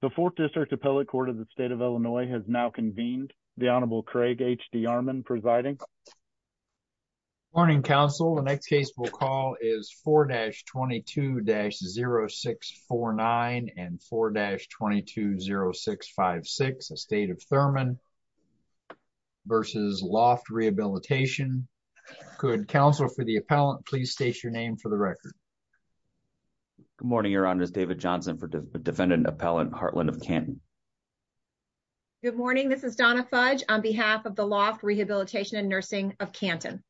The 4th District Appellate Court of the State of Illinois has now convened. The Honorable Craig H. D. Armon presiding. Good morning, counsel. The next case we'll call is 4-22-0649 and 4-220656, the State of Thurman v. Loft Rehabilitation. Could counsel for the appellant please state your name for the record. Good morning, Your Honor. This is David Johnson for Defendant Appellant Hartland of Canton. Good morning. This is Donna Fudge on behalf of the Loft Rehabilitation and Nursing of Canton.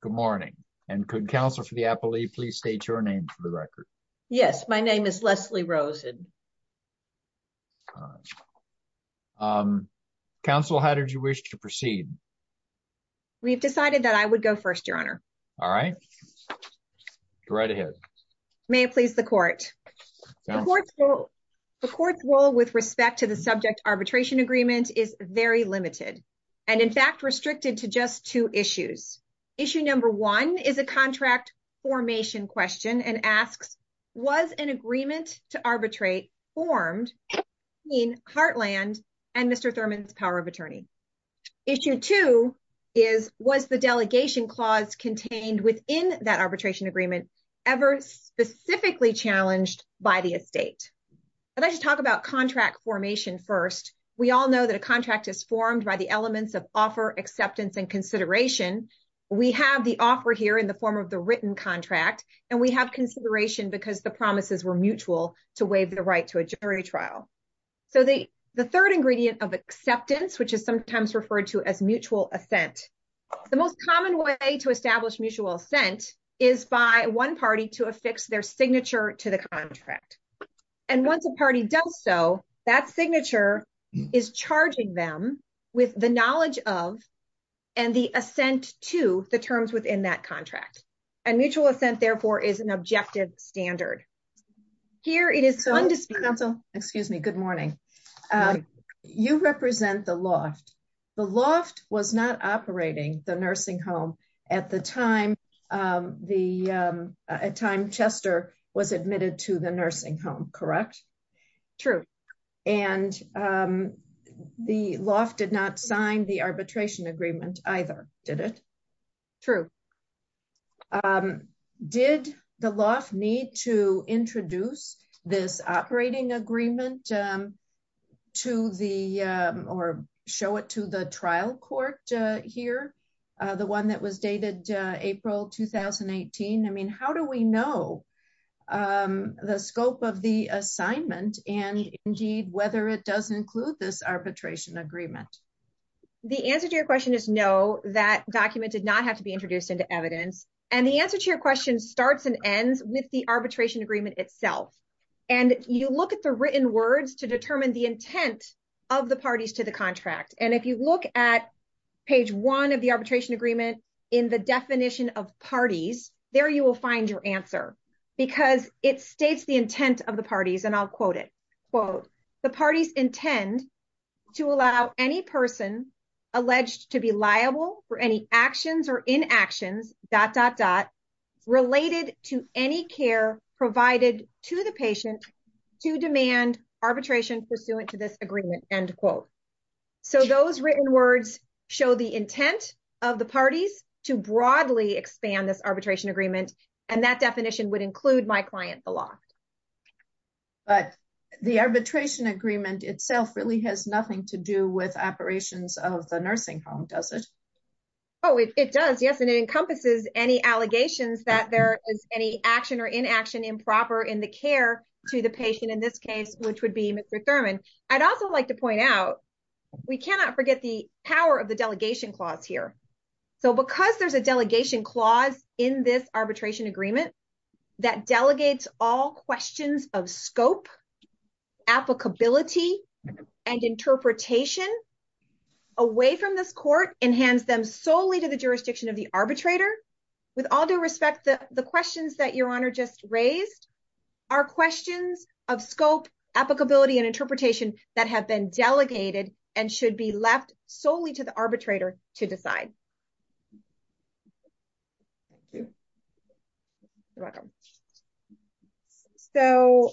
Good morning. And could counsel for the appellate please state your name for the record. Yes, my name is Leslie Rosen. Counsel, how did you wish to proceed? All right. Go right ahead. May it please the court. The court's role with respect to the subject arbitration agreement is very limited, and in fact restricted to just two issues. Issue number one is a contract formation question and asks, was an agreement to arbitrate formed between Hartland and Mr. Thurman's power of attorney? Issue two is, was the delegation clause contained within that arbitration agreement ever specifically challenged by the estate? I'd like to talk about contract formation first. We all know that a contract is formed by the elements of offer, acceptance, and consideration. We have the offer here in the form of the written contract, and we have consideration because the promises were mutual to waive the right to a jury trial. So the third ingredient of acceptance, which is sometimes referred to as mutual assent, the most common way to establish mutual assent is by one party to affix their signature to the contract. And once a party does so, that signature is charging them with the knowledge of and the assent to the terms within that contract. And mutual assent, therefore, is an objective standard. Here it is. Counsel, excuse me. Good morning. You represent the loft. The loft was not operating the nursing home at the time. The time Chester was admitted to the nursing home. Correct. True. And the loft did not sign the arbitration agreement either. Did it. True. Did the loft need to introduce this operating agreement to the or show it to the trial court here? The one that was dated April 2018. I mean, how do we know the scope of the assignment and indeed whether it does include this arbitration agreement? The answer to your question is no, that document did not have to be introduced into evidence. And the answer to your question starts and ends with the arbitration agreement itself. And you look at the written words to determine the intent of the parties to the contract. And if you look at page one of the arbitration agreement in the definition of parties there, you will find your answer because it states the intent of the parties. And I'll quote it, quote, the parties intend to allow any person alleged to be liable for any actions or inactions, dot, dot, dot, related to any care provided to the patient to demand arbitration pursuant to this agreement. So those written words show the intent of the parties to broadly expand this arbitration agreement. And that definition would include my client, the loft. But the arbitration agreement itself really has nothing to do with operations of the nursing home, does it? Oh, it does. Yes. And it encompasses any allegations that there is any action or inaction improper in the care to the patient in this case, which would be Mr. Thurman. I'd also like to point out, we cannot forget the power of the delegation clause here. So because there's a delegation clause in this arbitration agreement that delegates all questions of scope applicability and interpretation away from this court and hands them solely to the jurisdiction of the arbitrator. With all due respect, the questions that your honor just raised are questions of scope applicability and interpretation that have been delegated and should be left solely to the arbitrator to decide. You're welcome. So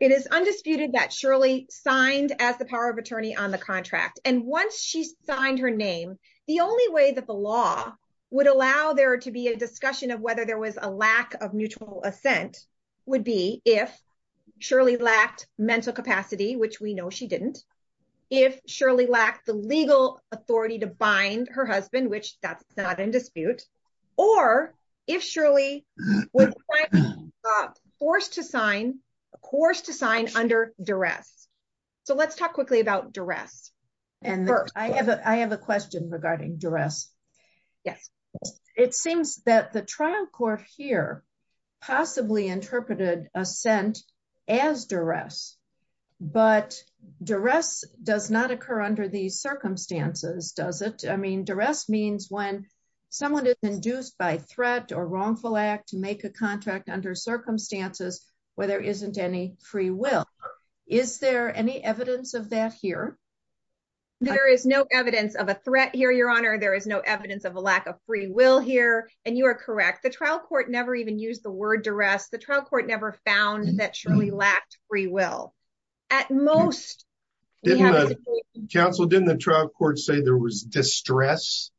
it is undisputed that Shirley signed as the power of attorney on the contract, and once she signed her name, the only way that the law would allow there to be a discussion of whether there was a lack of mutual assent would be if surely lacked mental capacity, which we know she didn't. If surely lacked the legal authority to bind her husband, which that's not in dispute, or if surely was forced to sign a course to sign under duress. So let's talk quickly about duress. I have a question regarding duress. Yes, it seems that the trial court here, possibly interpreted assent as duress, but duress does not occur under the circumstances does it I mean duress means when someone is induced by threat or wrongful act to make a contract under circumstances where there isn't any free will. Is there any evidence of that here. There is no evidence of a threat here your honor there is no evidence of a lack of free will here, and you are correct the trial court never even use the word duress the trial court never found that surely lacked free will. At most, Council didn't the trial court say there was distress.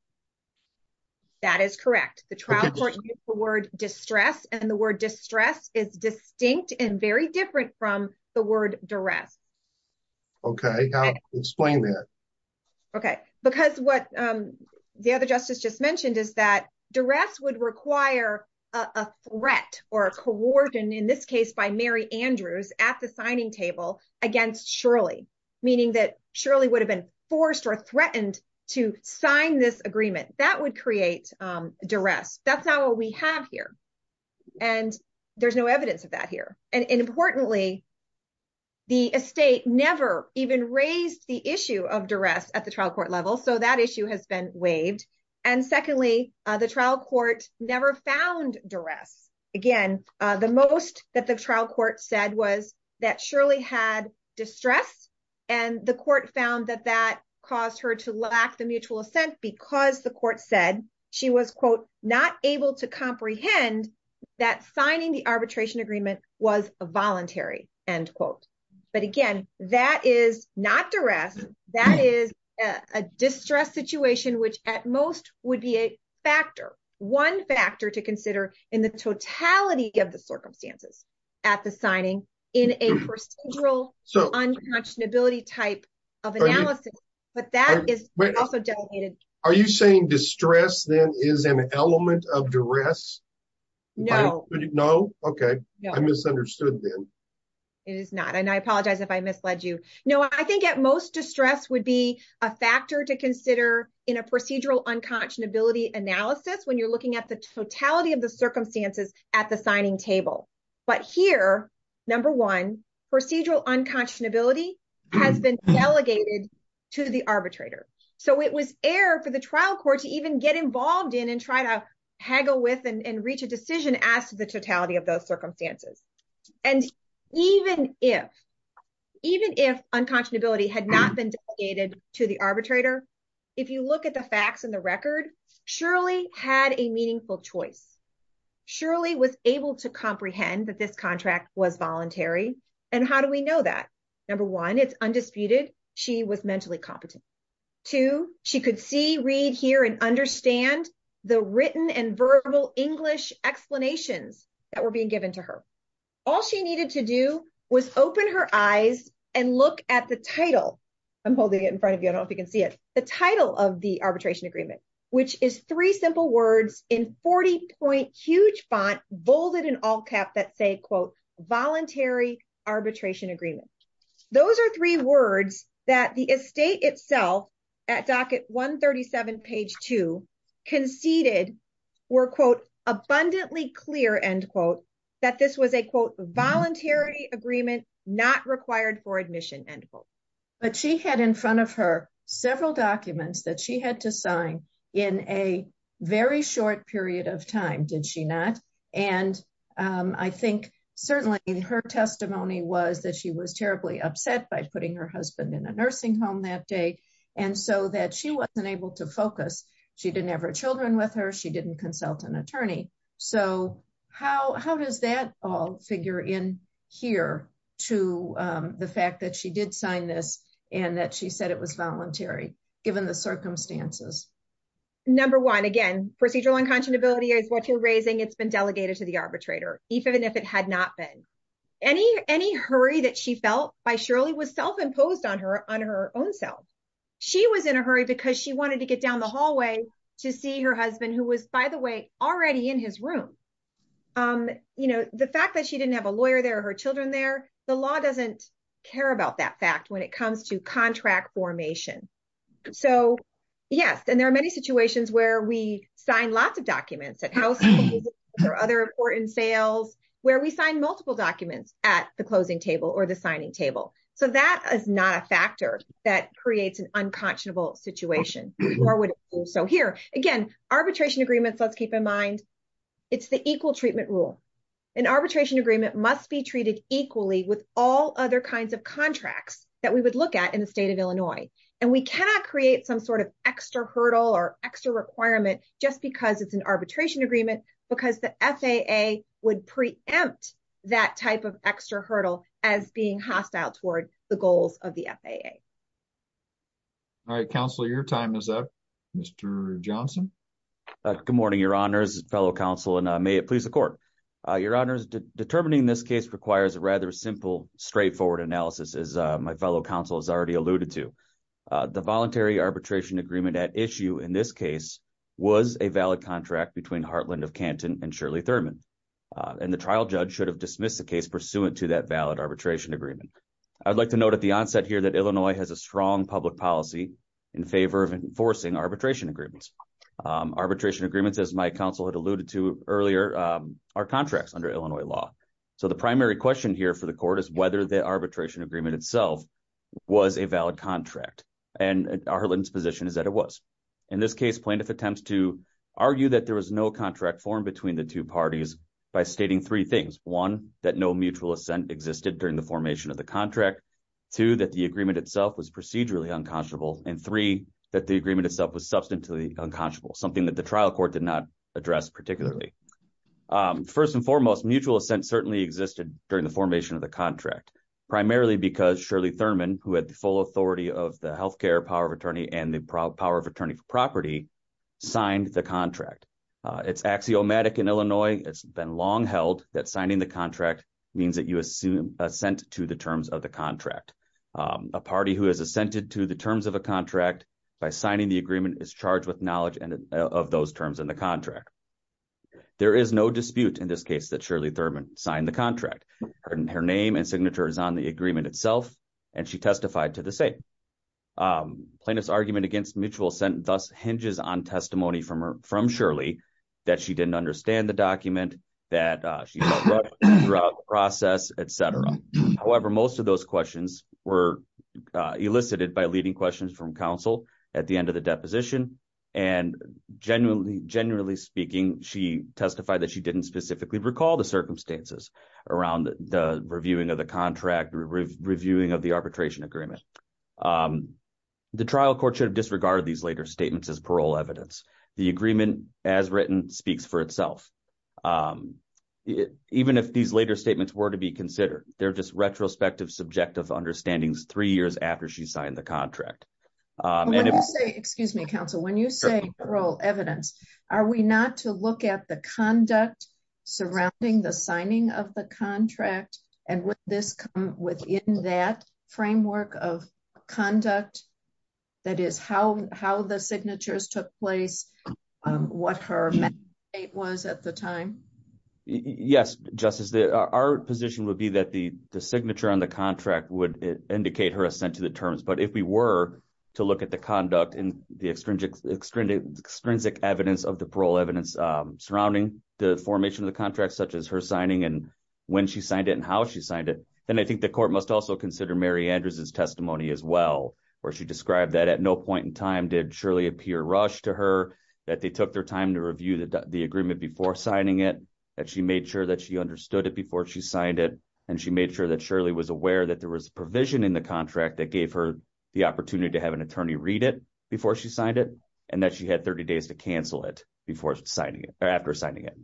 That is correct the trial court word distress and the word distress is distinct and very different from the word duress. Okay, explain that. Okay, because what the other justice just mentioned is that duress would require a threat or a coordinate in this case by Mary Andrews at the signing table against surely, meaning that surely would have been forced or threatened to sign this agreement that would create duress. That's not what we have here. And there's no evidence of that here. And importantly, the estate never even raised the issue of duress at the trial court level so that issue has been waived. And secondly, the trial court never found duress. Again, the most that the trial court said was that surely had distress, and the court found that that caused her to lack the mutual assent because the court said she was quote, not able to comprehend that signing the arbitration agreement was a voluntary end quote. But again, that is not duress. That is a distress situation which at most would be a factor, one factor to consider in the totality of the circumstances at the signing in a procedural so unconscionability type of analysis, but that is also delegated. Are you saying distress then is an element of duress. No, no. Okay. It is not and I apologize if I misled you know, I think at most distress would be a factor to consider in a procedural unconscionability analysis when you're looking at the totality of the circumstances at the signing table. But here, number one, procedural unconscionability has been delegated to the arbitrator. So it was air for the trial court to even get involved in and try to haggle with and reach a decision as to the totality of those circumstances. And even if, even if unconscionability had not been delegated to the arbitrator, if you look at the facts and the record, surely had a meaningful choice. Surely was able to comprehend that this contract was voluntary. And how do we know that? Number one, it's undisputed. She was mentally competent to she could see read here and understand the written and verbal English explanations that were being given to her. All she needed to do was open her eyes and look at the title. I'm holding it in front of you. I don't know if you can see it. The title of the arbitration agreement, which is three simple words in 40 point huge font bolded in all cap that say, quote, voluntary arbitration agreement. Those are three words that the estate itself at docket 137 page to conceded were quote abundantly clear end quote that this was a quote voluntary agreement not required for admission and. But she had in front of her several documents that she had to sign in a very short period of time, did she not. And I think, certainly in her testimony was that she was terribly upset by putting her husband in a nursing home that day. And so that she wasn't able to focus. She didn't have her children with her. She didn't consult an attorney. So how does that all figure in here to the fact that she did sign this and that she said it was voluntary, given the circumstances. Number one, again, procedural unconscionability is what you're raising. It's been delegated to the arbitrator, even if it had not been any, any hurry that she felt by surely was self imposed on her on her own self. She was in a hurry because she wanted to get down the hallway to see her husband, who was, by the way, already in his room. You know, the fact that she didn't have a lawyer there, her children there, the law doesn't care about that fact when it comes to contract formation. So, yes, and there are many situations where we sign lots of documents at house or other important sales, where we sign multiple documents at the closing table or the signing table. So that is not a factor that creates an unconscionable situation. So here again, arbitration agreements, let's keep in mind. It's the equal treatment rule. An arbitration agreement must be treated equally with all other kinds of contracts that we would look at in the state of Illinois. And we cannot create some sort of extra hurdle or extra requirement just because it's an arbitration agreement, because the FAA would preempt that type of extra hurdle as being hostile toward the goals of the FAA. All right, counsel, your time is up, Mr. Johnson. Good morning, your honors, fellow counsel, and may it please the court. Your honors, determining this case requires a rather simple, straightforward analysis, as my fellow counsel has already alluded to. The voluntary arbitration agreement at issue in this case was a valid contract between Heartland of Canton and Shirley Thurman. And the trial judge should have dismissed the case pursuant to that valid arbitration agreement. I'd like to note at the onset here that Illinois has a strong public policy in favor of enforcing arbitration agreements. Arbitration agreements, as my counsel had alluded to earlier, are contracts under Illinois law. So the primary question here for the court is whether the arbitration agreement itself was a valid contract. And Heartland's position is that it was. In this case, plaintiff attempts to argue that there was no contract formed between the two parties by stating three things. One, that no mutual assent existed during the formation of the contract. Two, that the agreement itself was procedurally unconscionable. And three, that the agreement itself was substantially unconscionable, something that the trial court did not address particularly. First and foremost, mutual assent certainly existed during the formation of the contract. Primarily because Shirley Thurman, who had the full authority of the health care power of attorney and the power of attorney for property, signed the contract. It's axiomatic in Illinois. It's been long held that signing the contract means that you assent to the terms of the contract. A party who has assented to the terms of a contract by signing the agreement is charged with knowledge of those terms in the contract. There is no dispute in this case that Shirley Thurman signed the contract. Her name and signature is on the agreement itself, and she testified to the same. Plaintiff's argument against mutual assent thus hinges on testimony from Shirley that she didn't understand the document, that she felt wronged throughout the process, etc. However, most of those questions were elicited by leading questions from counsel at the end of the deposition. And generally speaking, she testified that she didn't specifically recall the circumstances around the reviewing of the contract, reviewing of the arbitration agreement. The trial court should have disregarded these later statements as parole evidence. The agreement, as written, speaks for itself. Even if these later statements were to be considered, they're just retrospective, subjective understandings three years after she signed the contract. When you say parole evidence, are we not to look at the conduct surrounding the signing of the contract? And would this come within that framework of conduct? That is, how the signatures took place, what her mandate was at the time? Yes, Justice. Our position would be that the signature on the contract would indicate her assent to the terms. But if we were to look at the conduct and the extrinsic evidence of the parole evidence surrounding the formation of the contract, such as her signing and when she signed it and how she signed it, then I think the court must also consider Mary Andrews' testimony as well, where she described that at no point in time did Shirley appear rushed to her, that they took their time to review the agreement before signing it, that she made sure that she understood it before she signed it, and she made sure that Shirley was aware that there was a provision in the contract that gave her the opportunity to have an attorney read it before she signed it, and that she had 30 days to cancel it after signing it.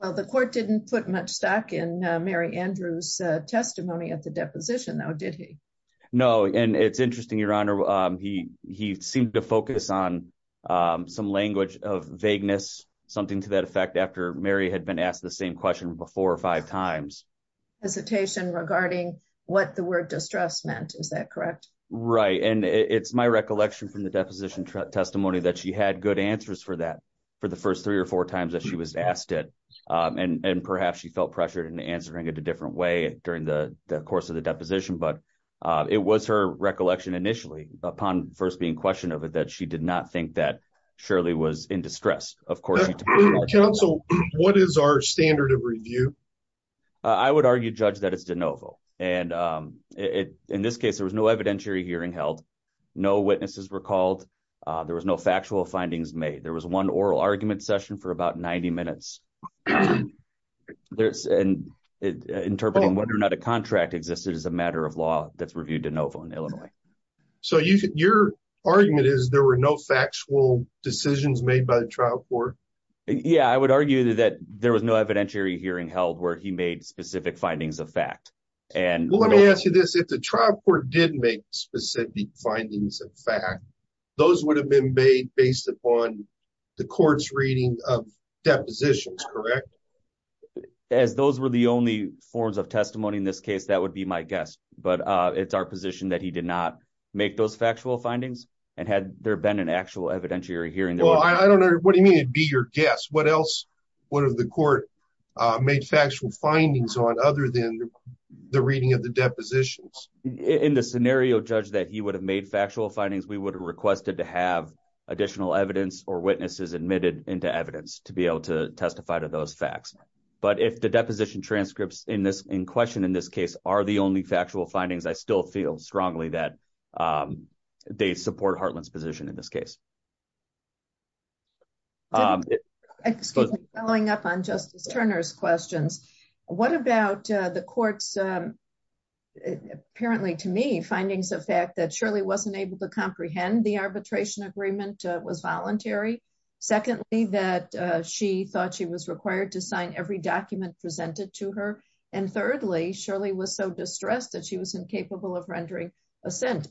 Well, the court didn't put much stock in Mary Andrews' testimony at the deposition, though, did he? No, and it's interesting, Your Honor, he seemed to focus on some language of vagueness, something to that effect, after Mary had been asked the same question four or five times. She had some hesitation regarding what the word distress meant, is that correct? Right, and it's my recollection from the deposition testimony that she had good answers for that for the first three or four times that she was asked it, and perhaps she felt pressured in answering it a different way during the course of the deposition, but it was her recollection initially, upon first being questioned of it, that she did not think that Shirley was in distress. Counsel, what is our standard of review? I would argue, Judge, that it's de novo, and in this case, there was no evidentiary hearing held. No witnesses were called. There was no factual findings made. There was one oral argument session for about 90 minutes, interpreting whether or not a contract existed as a matter of law that's reviewed de novo in Illinois. So your argument is there were no factual decisions made by the trial court? Yeah, I would argue that there was no evidentiary hearing held where he made specific findings of fact. Well, let me ask you this. If the trial court did make specific findings of fact, those would have been made based upon the court's reading of depositions, correct? As those were the only forms of testimony in this case, that would be my guess, but it's our position that he did not make those factual findings, and had there been an actual evidentiary hearing, there would have been. No, I don't know. What do you mean it'd be your guess? What else would have the court made factual findings on other than the reading of the depositions? In the scenario, Judge, that he would have made factual findings, we would have requested to have additional evidence or witnesses admitted into evidence to be able to testify to those facts. But if the deposition transcripts in question in this case are the only factual findings, I still feel strongly that they support Hartland's position in this case. Excuse me, following up on Justice Turner's questions, what about the court's, apparently to me, findings of fact that Shirley wasn't able to comprehend the arbitration agreement was voluntary? Secondly, that she thought she was required to sign every document presented to her? And thirdly, Shirley was so distressed that she was incapable of rendering assent.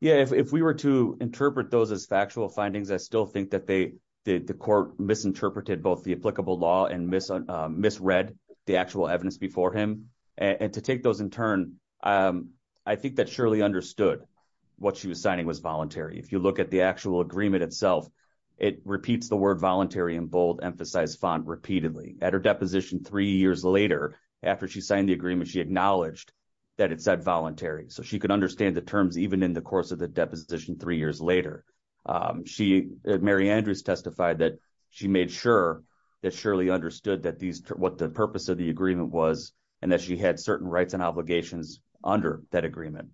Yeah, if we were to interpret those as factual findings, I still think that the court misinterpreted both the applicable law and misread the actual evidence before him. And to take those in turn, I think that Shirley understood what she was signing was voluntary. If you look at the actual agreement itself, it repeats the word voluntary in bold-emphasized font repeatedly. At her deposition three years later, after she signed the agreement, she acknowledged that it said voluntary. So she could understand the terms even in the course of the deposition three years later. Mary Andrews testified that she made sure that Shirley understood what the purpose of the agreement was and that she had certain rights and obligations under that agreement.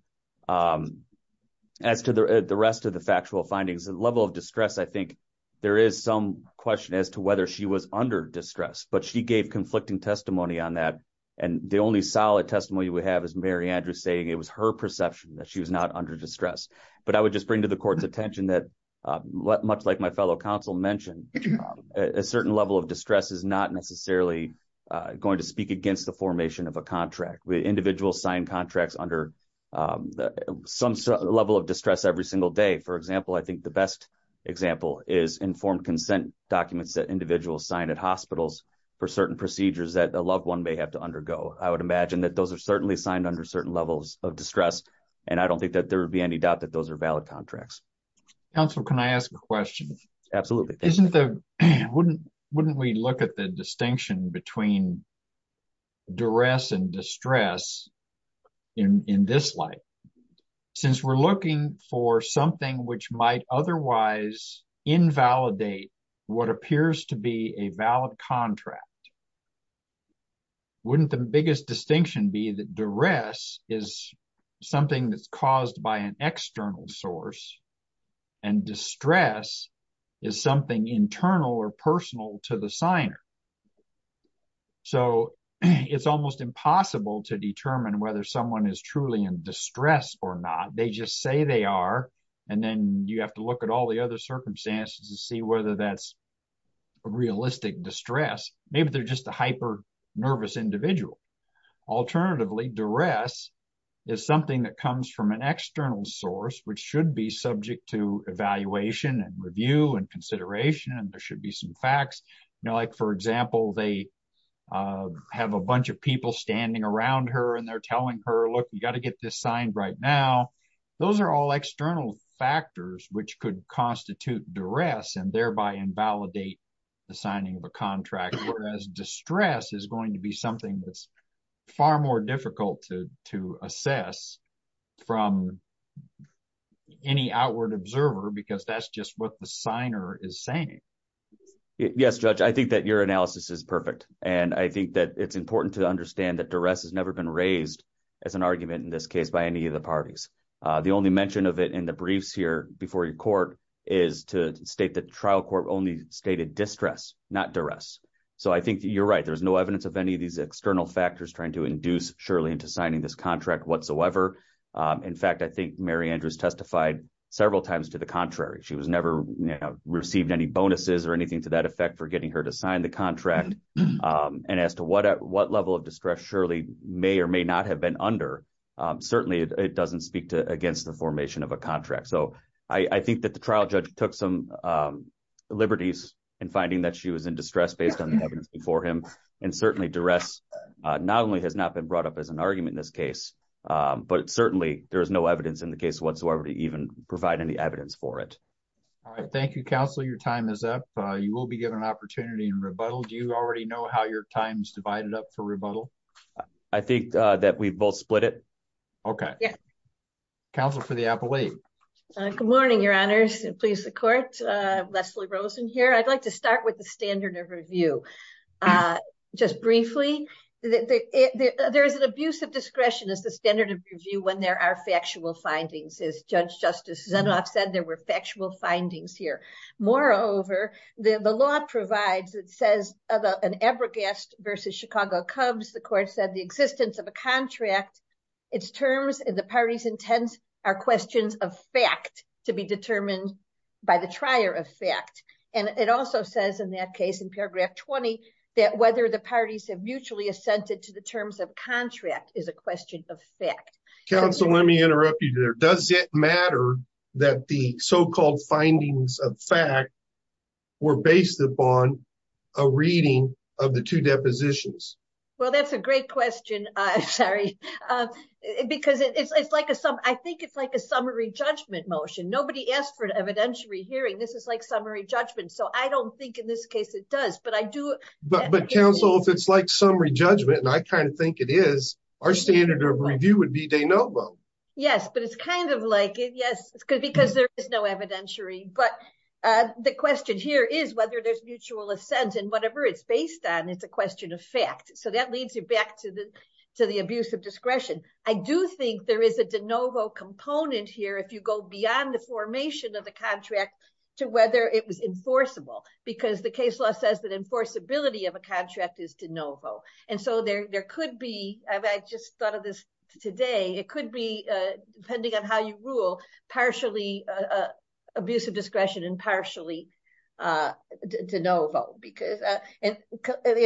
As to the rest of the factual findings, the level of distress, I think there is some question as to whether she was under distress, but she gave conflicting testimony on that. And the only solid testimony we have is Mary Andrews saying it was her perception that she was not under distress. But I would just bring to the court's attention that, much like my fellow counsel mentioned, a certain level of distress is not necessarily going to speak against the formation of a contract. Individuals sign contracts under some level of distress every single day. For example, I think the best example is informed consent documents that individuals sign at hospitals for certain procedures that a loved one may have to undergo. I would imagine that those are certainly signed under certain levels of distress, and I don't think that there would be any doubt that those are valid contracts. Counsel, can I ask a question? Absolutely. Wouldn't we look at the distinction between duress and distress in this light? Since we're looking for something which might otherwise invalidate what appears to be a valid contract, wouldn't the biggest distinction be that duress is something that's caused by an external source, and distress is something internal or personal to the signer? So it's almost impossible to determine whether someone is truly in distress or not. They just say they are, and then you have to look at all the other circumstances to see whether that's a realistic distress. Maybe they're just a hyper-nervous individual. Alternatively, duress is something that comes from an external source which should be subject to evaluation and review and consideration, and there should be some facts. For example, they have a bunch of people standing around her and they're telling her, look, you've got to get this signed right now. Those are all external factors which could constitute duress and thereby invalidate the signing of a contract, whereas distress is going to be something that's far more difficult to assess from any outward observer because that's just what the signer is saying. Yes, Judge, I think that your analysis is perfect, and I think that it's important to understand that duress has never been raised as an argument in this case by any of the parties. The only mention of it in the briefs here before your court is to state that the trial court only stated distress, not duress. I think you're right. There's no evidence of any of these external factors trying to induce Shirley into signing this contract whatsoever. In fact, I think Mary Andrews testified several times to the contrary. She never received any bonuses or anything to that effect for getting her to sign the contract, and as to what level of distress Shirley may or may not have been under, certainly it doesn't speak against the formation of a contract. So I think that the trial judge took some liberties in finding that she was in distress based on the evidence before him, and certainly duress not only has not been brought up as an argument in this case, but certainly there is no evidence in the case whatsoever to even provide any evidence for it. All right. Thank you, counsel. Your time is up. You will be given an opportunity in rebuttal. Do you already know how your time is divided up for rebuttal? I think that we've both split it. Okay. Counsel for the Appalachian. Good morning, Your Honors. Please support Leslie Rosen here. I'd like to start with the standard of review. Just briefly, there is an abuse of discretion as the standard of review when there are factual findings. As Judge Justice Zenoff said, there were factual findings here. Moreover, the law provides, it says, an abrogast versus Chicago Cubs. The court said the existence of a contract, its terms and the parties' intents are questions of fact to be determined by the trier of fact. And it also says in that case, in paragraph 20, that whether the parties have mutually assented to the terms of contract is a question of fact. Counsel, let me interrupt you there. Does it matter that the so-called findings of fact were based upon a reading of the two depositions? Well, that's a great question. I'm sorry. Because I think it's like a summary judgment motion. Nobody asked for an evidentiary hearing. This is like summary judgment. So I don't think in this case it does. But, Counsel, if it's like summary judgment, and I kind of think it is, our standard of review would be de novo. Yes, but it's kind of like, yes, because there is no evidentiary. But the question here is whether there's mutual assent and whatever it's based on, it's a question of fact. So that leads you back to the abuse of discretion. I do think there is a de novo component here if you go beyond the formation of the contract to whether it was enforceable. Because the case law says that enforceability of a contract is de novo. And so there could be, I just thought of this today, it could be, depending on how you rule, partially abuse of discretion and partially de novo. Because the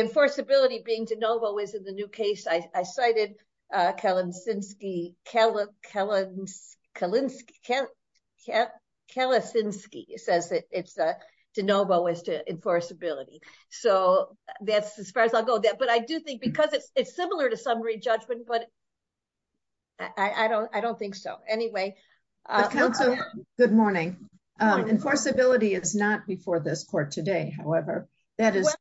enforceability being de novo is in the new case. I cited Kalinske, Kalinske, Kalinske, Kalinske, Kalinske says that it's de novo as to enforceability. So that's as far as I'll go. But I do think because it's similar to summary judgment, but I don't think so. Anyway. Counsel, good morning. Enforceability is not before this court today, however. That is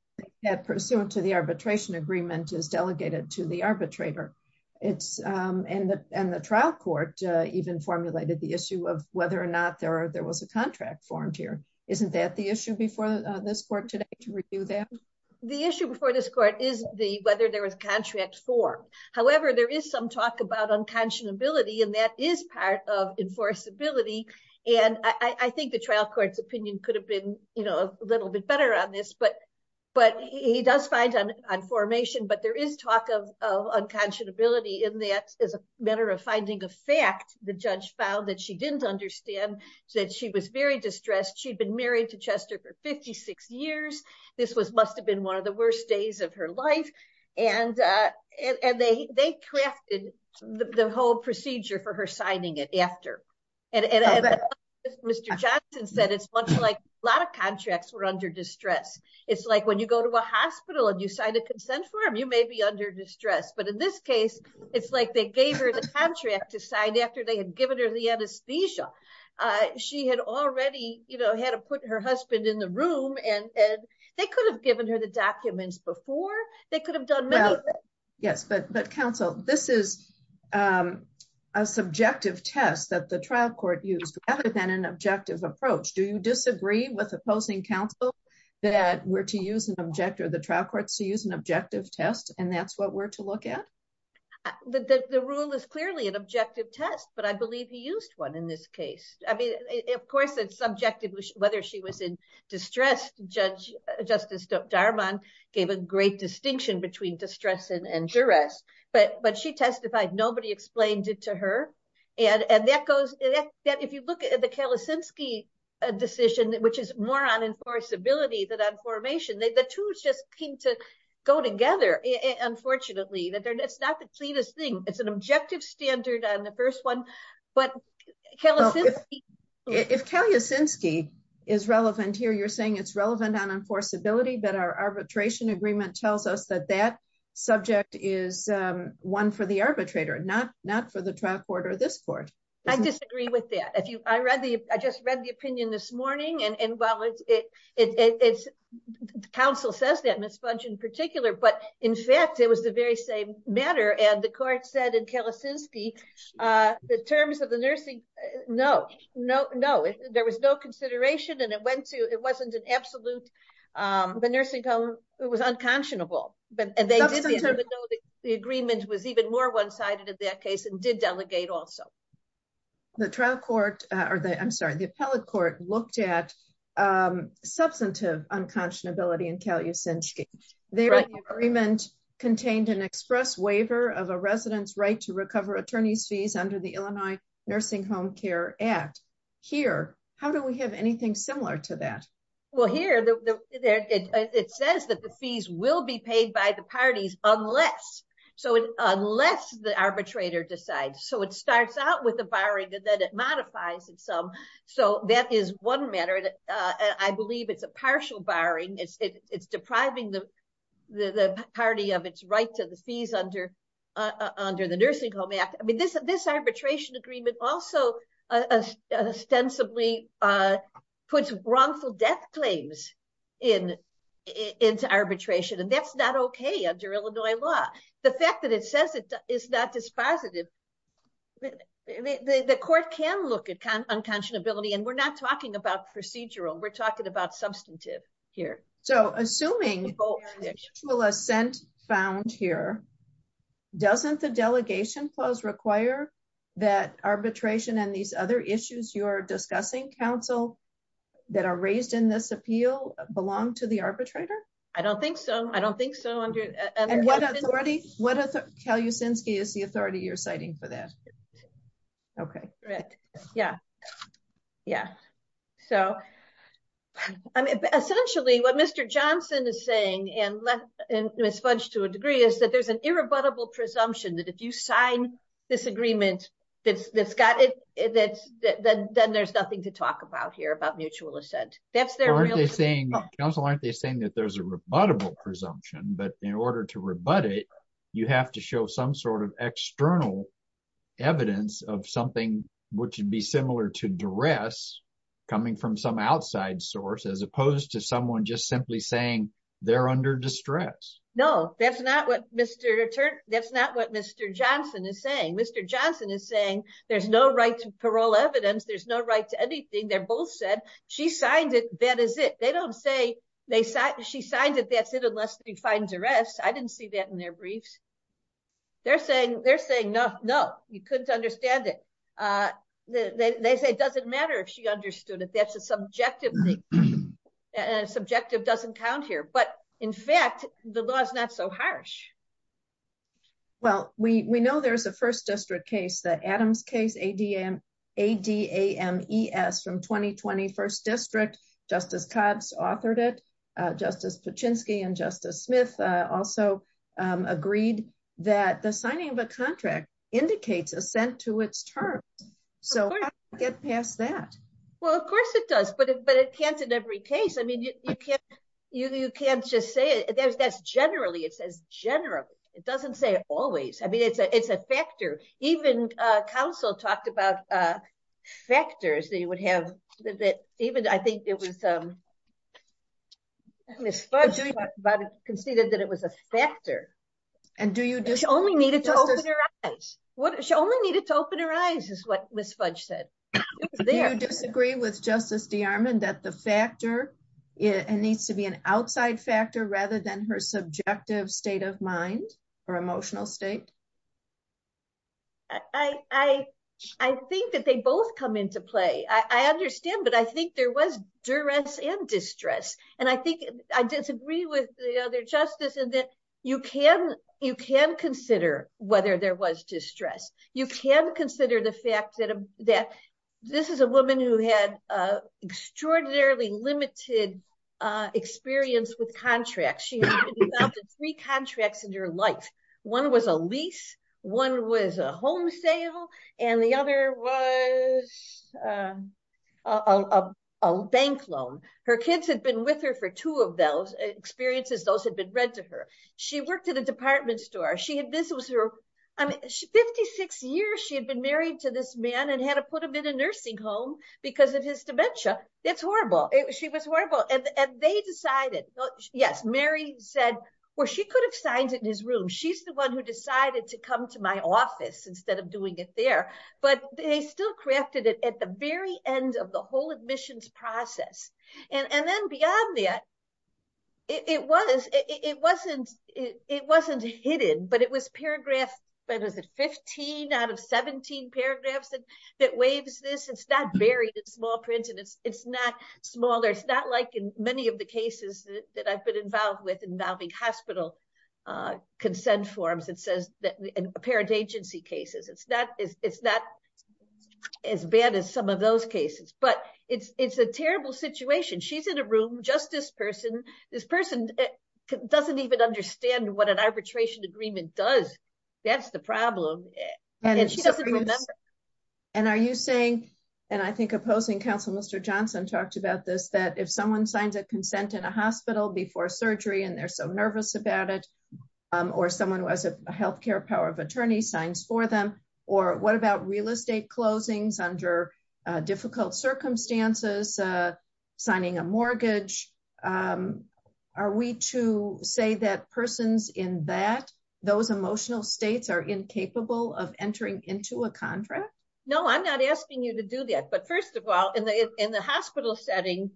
pursuant to the arbitration agreement is delegated to the arbitrator. And the trial court even formulated the issue of whether or not there was a contract formed here. Isn't that the issue before this court today to review that? The issue before this court is whether there was contract form. However, there is some talk about unconscionability And I think the trial court's opinion could have been a little bit better on this. But he does find on formation, but there is talk of unconscionability in that as a matter of finding a fact, the judge found that she didn't understand that she was very distressed. She'd been married to Chester for 56 years. This must have been one of the worst days of her life. And they crafted the whole procedure for her signing it after. And as Mr. Johnson said, it's much like a lot of contracts were under distress. It's like when you go to a hospital and you sign a consent form, you may be under distress. But in this case, it's like they gave her the contract to sign after they had given her the anesthesia. She had already had to put her husband in the room and they could have given her the documents before. They could have done many things. Yes, but counsel, this is a subjective test that the trial court used rather than an objective approach. Do you disagree with opposing counsel that we're to use an objective, the trial courts to use an objective test and that's what we're to look at? The rule is clearly an objective test, but I believe he used one in this case. Of course, it's subjective, whether she was in distress, Justice Darman gave a great distinction between distress and duress, but she testified, nobody explained it to her. If you look at the Kalisinski decision, which is more on enforceability than on formation, the two just seem to go together, unfortunately. It's not the cleanest thing. It's an objective standard on the first one, but Kalisinski- If Kalisinski is relevant here, you're saying it's relevant on enforceability, but our arbitration agreement tells us that that subject is one for the arbitrator, not for the trial court or this court. I disagree with that. I just read the opinion this morning and while counsel says that, Ms. Fudge in particular, but in fact, it was the very same matter and the court said in Kalisinski, the terms of the nursing- No, there was no consideration and it wasn't an absolute, the nursing home, it was unconscionable. The agreement was even more one-sided in that case and did delegate also. The trial court, I'm sorry, the appellate court looked at substantive unconscionability in Kalisinski. Their agreement contained an express waiver of a resident's right to recover attorney's fees under the Illinois Nursing Home Care Act. Here, how do we have anything similar to that? Well, here, it says that the fees will be paid by the parties unless, unless the arbitrator decides. It starts out with a barring and then it modifies in some. That is one matter. I believe it's a partial barring. It's depriving the party of its right to the fees under the Nursing Home Act. This arbitration agreement also ostensibly puts wrongful death claims into arbitration and that's not okay under Illinois law. The fact that it says it's not dispositive, the court can look at unconscionability and we're not talking about procedural. We're talking about substantive here. So, assuming the actual assent found here, doesn't the delegation clause require that arbitration and these other issues you're discussing, counsel, that are raised in this appeal belong to the arbitrator? I don't think so. What authority, is the authority you're citing for that? Okay. Yeah, yeah. So, essentially what Mr. Johnson is saying and Ms. Fudge to a degree is that there's an irrebuttable presumption that if you sign this agreement that's got it, then there's nothing to talk about here about mutual assent. Counsel, aren't they saying that there's a rebuttable presumption but in order to rebut it, you have to show some sort of external evidence of something which would be similar to duress coming from some outside source as opposed to someone just simply saying they're under distress. No, that's not what Mr. That's not what Mr. Johnson is saying. Mr. Johnson is saying there's no right to parole evidence, there's no right to anything. They both said she signed it, that is it. They don't say she signed it, that's it unless he finds arrest. I didn't see that in their briefs. They're saying no, you couldn't understand it. They say it doesn't matter if she understood it, that's a subjective thing and subjective doesn't count here. But in fact, the law is not so harsh. Well, we know there's a first district case, the Adams case, A.D.M. A.D.A.M. E.S. from twenty twenty first district. Justice Codds authored it. Justice Paczynski and Justice Smith also agreed that the signing of a contract indicates assent to its terms. So get past that. Well, of course it does, but it can't in every case. I mean, you can't you can't just say that's generally it says generally it doesn't say always. I mean, it's a it's a factor. Even counsel talked about factors that you would have that even I think it was Ms. Fudge conceded that it was a factor. And do you only need it to open her eyes? She only needed to open her eyes is what Ms. Fudge said. Do you disagree with Justice DeArmond that the factor needs to be an outside factor rather than her subjective state of mind or emotional state? I I think that they both come into play. I understand. But I think there was duress and distress. And I think I disagree with the other justice and that you can you can consider whether there was distress. You can consider the fact that this is a woman who had extraordinarily limited experience with contracts. She had three contracts in her life. One was a lease. One was a home sale. And the other was a bank loan. Her kids had been with her for two of those experiences. Those had been read to her. She worked at a department store. She had this was her 56 years. She had been married to this man and had to put him in a nursing home because of his dementia. It's horrible. She was horrible. And they decided yes. Mary said, well, she could have signed it in his room. She's the one who decided to come to my office instead of doing it there. But they still crafted it at the very end of the whole admissions process. And then beyond that, it was it wasn't it wasn't hidden, but it was paragraphs. But is it 15 out of 17 paragraphs that that waves this? It's not buried in small print and it's not smaller. It's not like in many of the cases that I've been involved with involving hospital consent forms that says that apparent agency cases. It's not it's not as bad as some of those cases, but it's it's a terrible situation. She's in a room just this person. This person doesn't even understand what an arbitration agreement does. That's the problem. And she doesn't remember. And are you saying and I think opposing counsel, Mr. Johnson talked about this, that if someone signs a consent in a hospital before surgery and they're so nervous about it or someone who has a health care power of attorney signs for them or what about real estate closings under difficult circumstances signing a mortgage? Are we to say that persons in that those emotional states are incapable of entering into a contract? No, I'm not asking you to do that. But first of all, in the in the hospital setting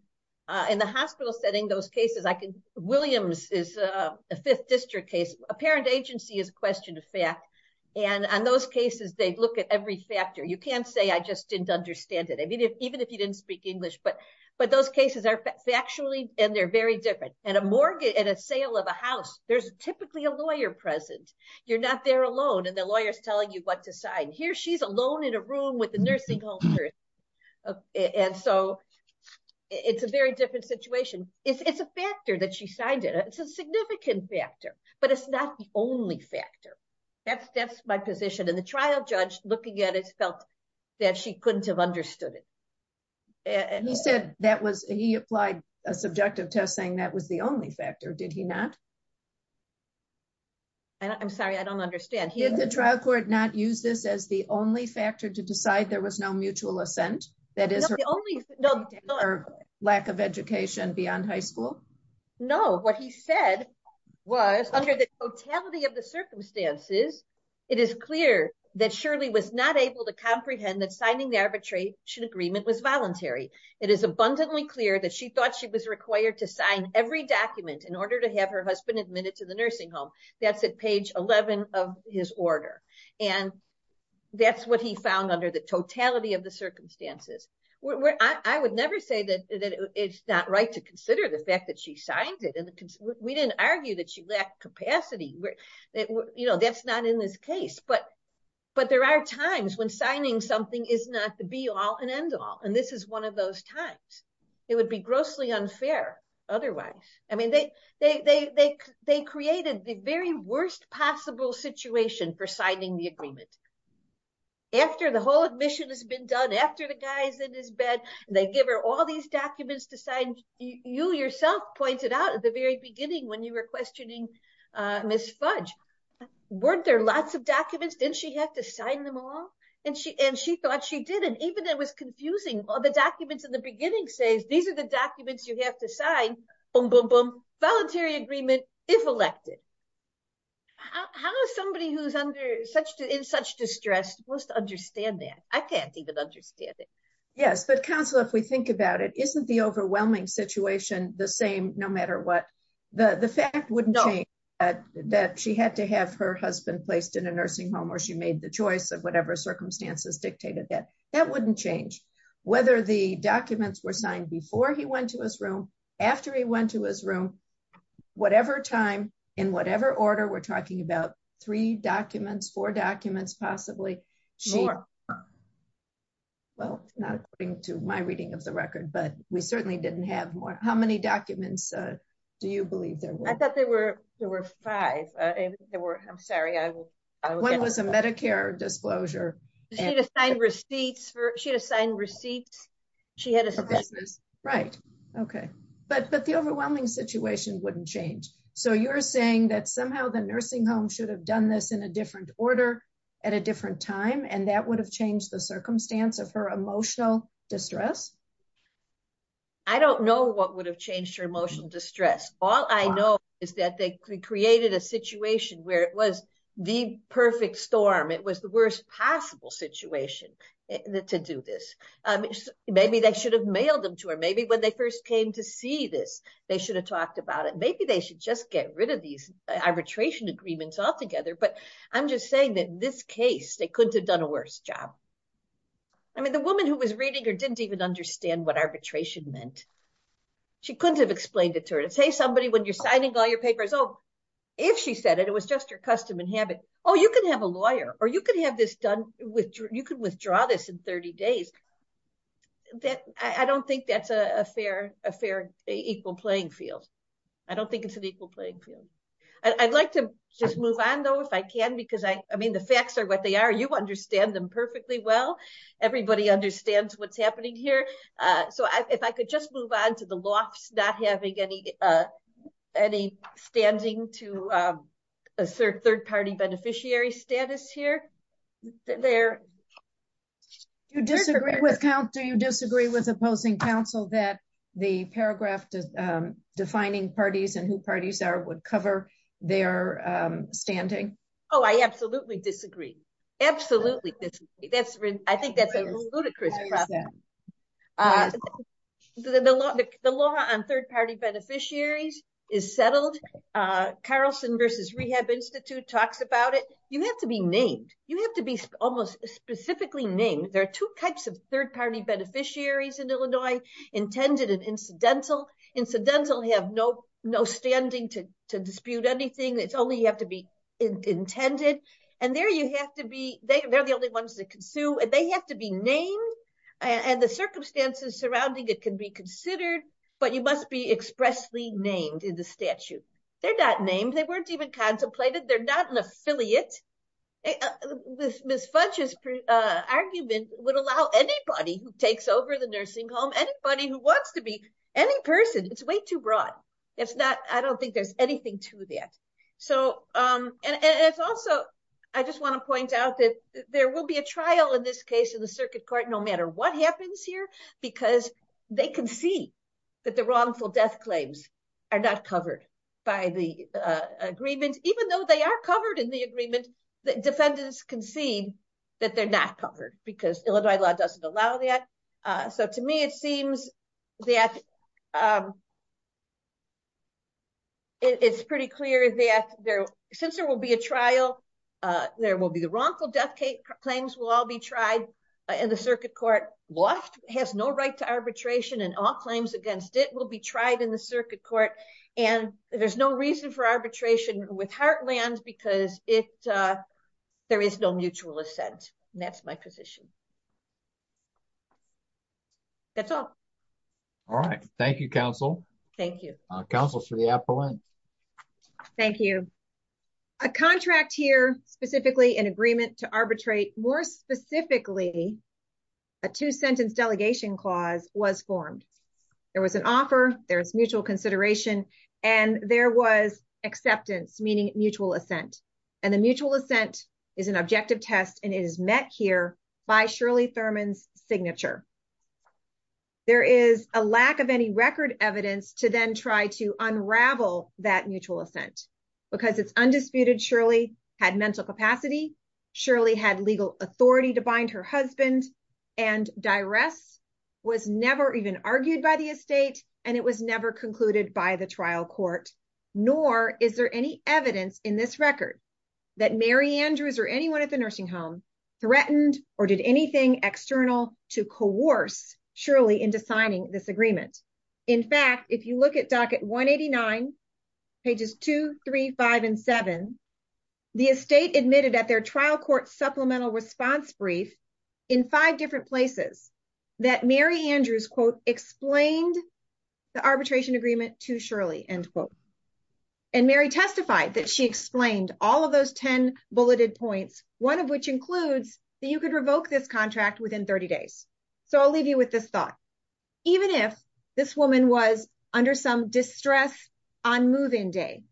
in the hospital setting those cases. I can Williams is a fifth district case. A parent agency is a question of fact. And on those cases, they look at every factor. You can't say I just didn't understand it. I mean, even if you didn't speak English, but but those cases are factually and they're very different and a mortgage and a sale of a house. There's typically a lawyer present. You're not there alone. And the lawyer is telling you what to sign here. She's alone in a room with the nursing home. And so it's a very different situation. It's a factor that she signed it. It's a significant factor, but it's not the only factor. That's my position in the trial. Judge looking at it felt that she couldn't have understood it. And he said that was he applied a subjective test saying that was the only factor. Did he not? And I'm sorry, I don't understand the trial court not use this as the only factor to decide there was no mutual assent. That is the only lack of education beyond high school. No. What he said was under the totality of the circumstances. It is clear that surely was not able to comprehend that signing the arbitration agreement was voluntary. It is abundantly clear that she thought she was required to sign every document in order to have her husband admitted to the nursing home. That's at page 11 of his order. And that's what he found under the totality of the circumstances where I would never say that that it's not her right to consider the fact that she signed it. We didn't argue that she lacked capacity. That's not in this case. But there are times when signing something is not the be-all and end-all. And this is one of those times. It would be grossly unfair otherwise. I mean, they created the very worst possible situation for signing the agreement. After the whole admission has been done, after the guy is in his bed, they give her all these documents to sign. You yourself pointed out at the very beginning when you were questioning Ms. Fudge. Weren't there lots of documents? Didn't she have to sign them all? she didn't. Even it was confusing. All the documents in the beginning says, these are the documents you have to sign. Boom, boom, boom. Voluntary agreement, if elected. How is somebody who is in such distress supposed to understand that? I can't even understand it. Yes, but counsel, if we think about it, isn't the overwhelming situation the same no matter what? The fact wouldn't change that she had to have her husband placed in a nursing home or she made the choice of whatever order. In whatever order we're talking about, three documents, four documents possibly. Well, not according to my reading of the record, but we certainly didn't have more. How many documents do you believe there were? I thought there were five. I'm sorry. One was a Medicare disclosure. She had to sign receipts. Right. Okay. But the overwhelming situation wouldn't change. So you're saying that somehow the nursing home should have done this in a different order at a different time and that would have changed the circumstance of her emotional distress? I don't know what would have changed her emotional distress. All I know is that they created a situation where it was the perfect storm. It was the worst possible situation to do this. Maybe they should have mailed them to her. Maybe when they first came to see this they should have talked about it. Maybe they should just get rid of these arbitration agreements altogether. I'm just saying in this case they couldn't have done a worse job. The woman who was reading didn't understand what arbitration meant. You can have a lawyer or you can withdraw this in 30 days. I don't think that's a fair equal playing field. I would like to move on if I can. The facts are what they are. You understand them perfectly well. Everybody understands what's happening here. If I could move on to the lofts not having any standing to assert third party beneficiaries Illinois. Would you agree that defining parties would cover their standing? I absolutely disagree. I think that's a ludicrous problem. The law on third party beneficiaries is settled. Carlson versus rehab institute talks about it. You have to be named. There are two types of third party beneficiaries in Illinois. Incidental have no standing to dispute anything. They have to be named and the circumstances surrounding it can be considered but you must be expressly named in statute. They're not named. They're not an affiliate. Ms. Fudge's argument would allow anybody who wants to be any person. It's too broad. I don't think there's anything to that. I just want to point out there will be a trial in this case no matter what happens here because they can see that the wrongful death claims are not covered by the agreement even though they are covered in the agreement defendants can see they're not covered. To me it seems that it's pretty clear that since there will be a trial, there will be the wrongful death claims and the circuit court has no right to arbitration and there's no reason for arbitration with heartland because there is no mutual assent. That's have to say. Thank you. A contract here specifically in agreement to arbitrate more specifically a two sentence delegation clause was formed. There was an offer, there was mutual consideration and there was acceptance meaning mutual assent. It's an objective test and it here by Shirley Thurman's signature. There is a lack of any record evidence to unravel that mutual assent because it's undisputed that Shirley had mental capacity and legal authority to bind her husband and was never even argued by the estate nor is there any evidence in this record that Mary Andrews threatened or did anything external to coerce Shirley into signing this agreement. In fact, if you look at docket 189, pages 2, 3, 5, and 7, the estate admitted in five different places that Mary Andrews explained the arbitration agreement to Shirley. And even if this woman was under some distress on move-in day,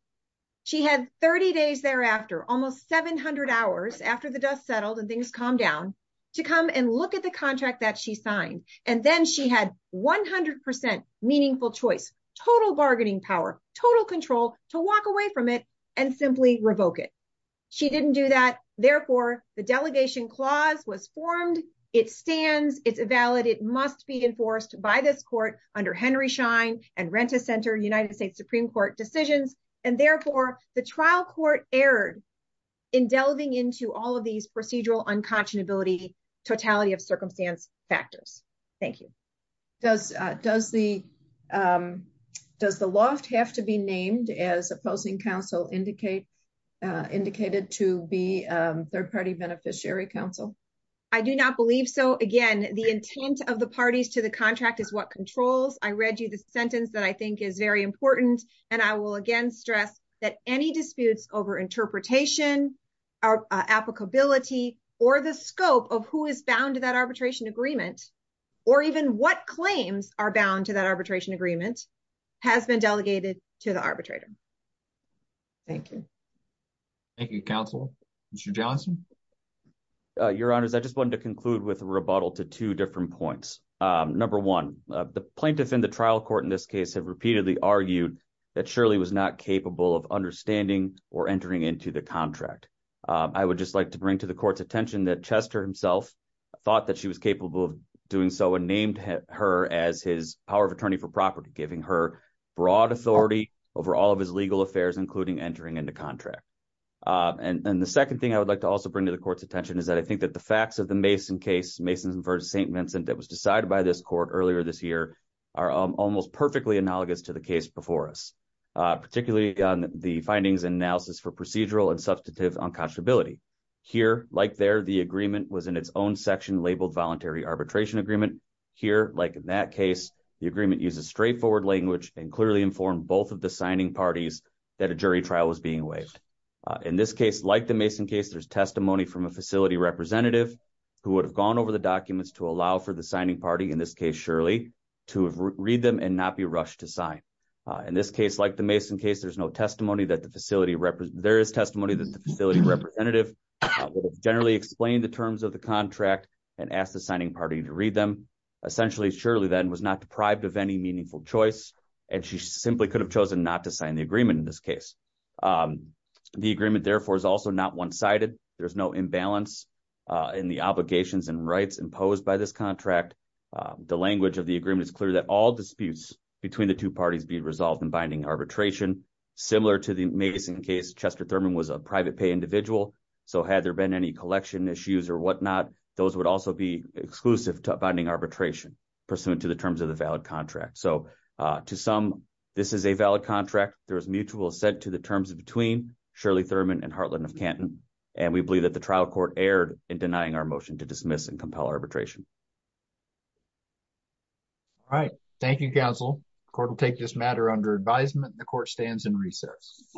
she had 30 days thereafter, almost 700 hours after the dust settled and things calmed down, to come and look at the contract she signed and then she had 100% meaningful choice, total bargaining power, total control, to walk away from it and simply revoke it. She didn't do that, therefore, the delegation clause was formed, it stands, it's valid, it must be enforced by this court under Henry Schein and Rent-A-Center decisions, and therefore, the trial court erred in delving into procedural unconscionability and totality of circumstance factors. Thank you. Does the loft have to be named as opposing counsel indicated to beneficiary counsel? I do not believe so. Again, the intent of the parties to the contract is what controls. I read you the believe that the scope of applicability or the scope of who is bound to that arbitration agreement or even what claims are bound to that arbitration agreement has been delegated to the arbitrator. Thank you. Thank you, counsel. Mr. Johnson? Your Honor, I wanted to conclude with two different points. Number one, the plaintiff in the trial court have repeatedly argued that Shirley was not capable of understanding or entering into the contract. Chester thought she was capable of doing so and named her as his power of attorney for property giving her broad authority over all of his legal affairs including entering into contract. The second thing I would like to bring to the court's attention is that the facts of the Mason case are almost perfectly analogous to the case before us. Here, like there, the agreement was in broad language and clearly informed both of the signing parties that a jury trial was being waived. In this case, like the Mason case, there's testimony from a facility representative who would have gone over the documents to allow Shirley to read them and not be rushed to sign. In this case, Shirley could have chosen not to sign the agreement. The agreement is also not one-sided. There's no imbalance in the obligations and rights imposed by this contract. The language of the agreement is clear that all disputes between the parties be resolved in a fair way. To some, this is a valid contract. There's mutual assent to the terms between Shirley Thurman and Hartland of Canton. We believe the trial court erred in denying our motion to agreement. Thank you.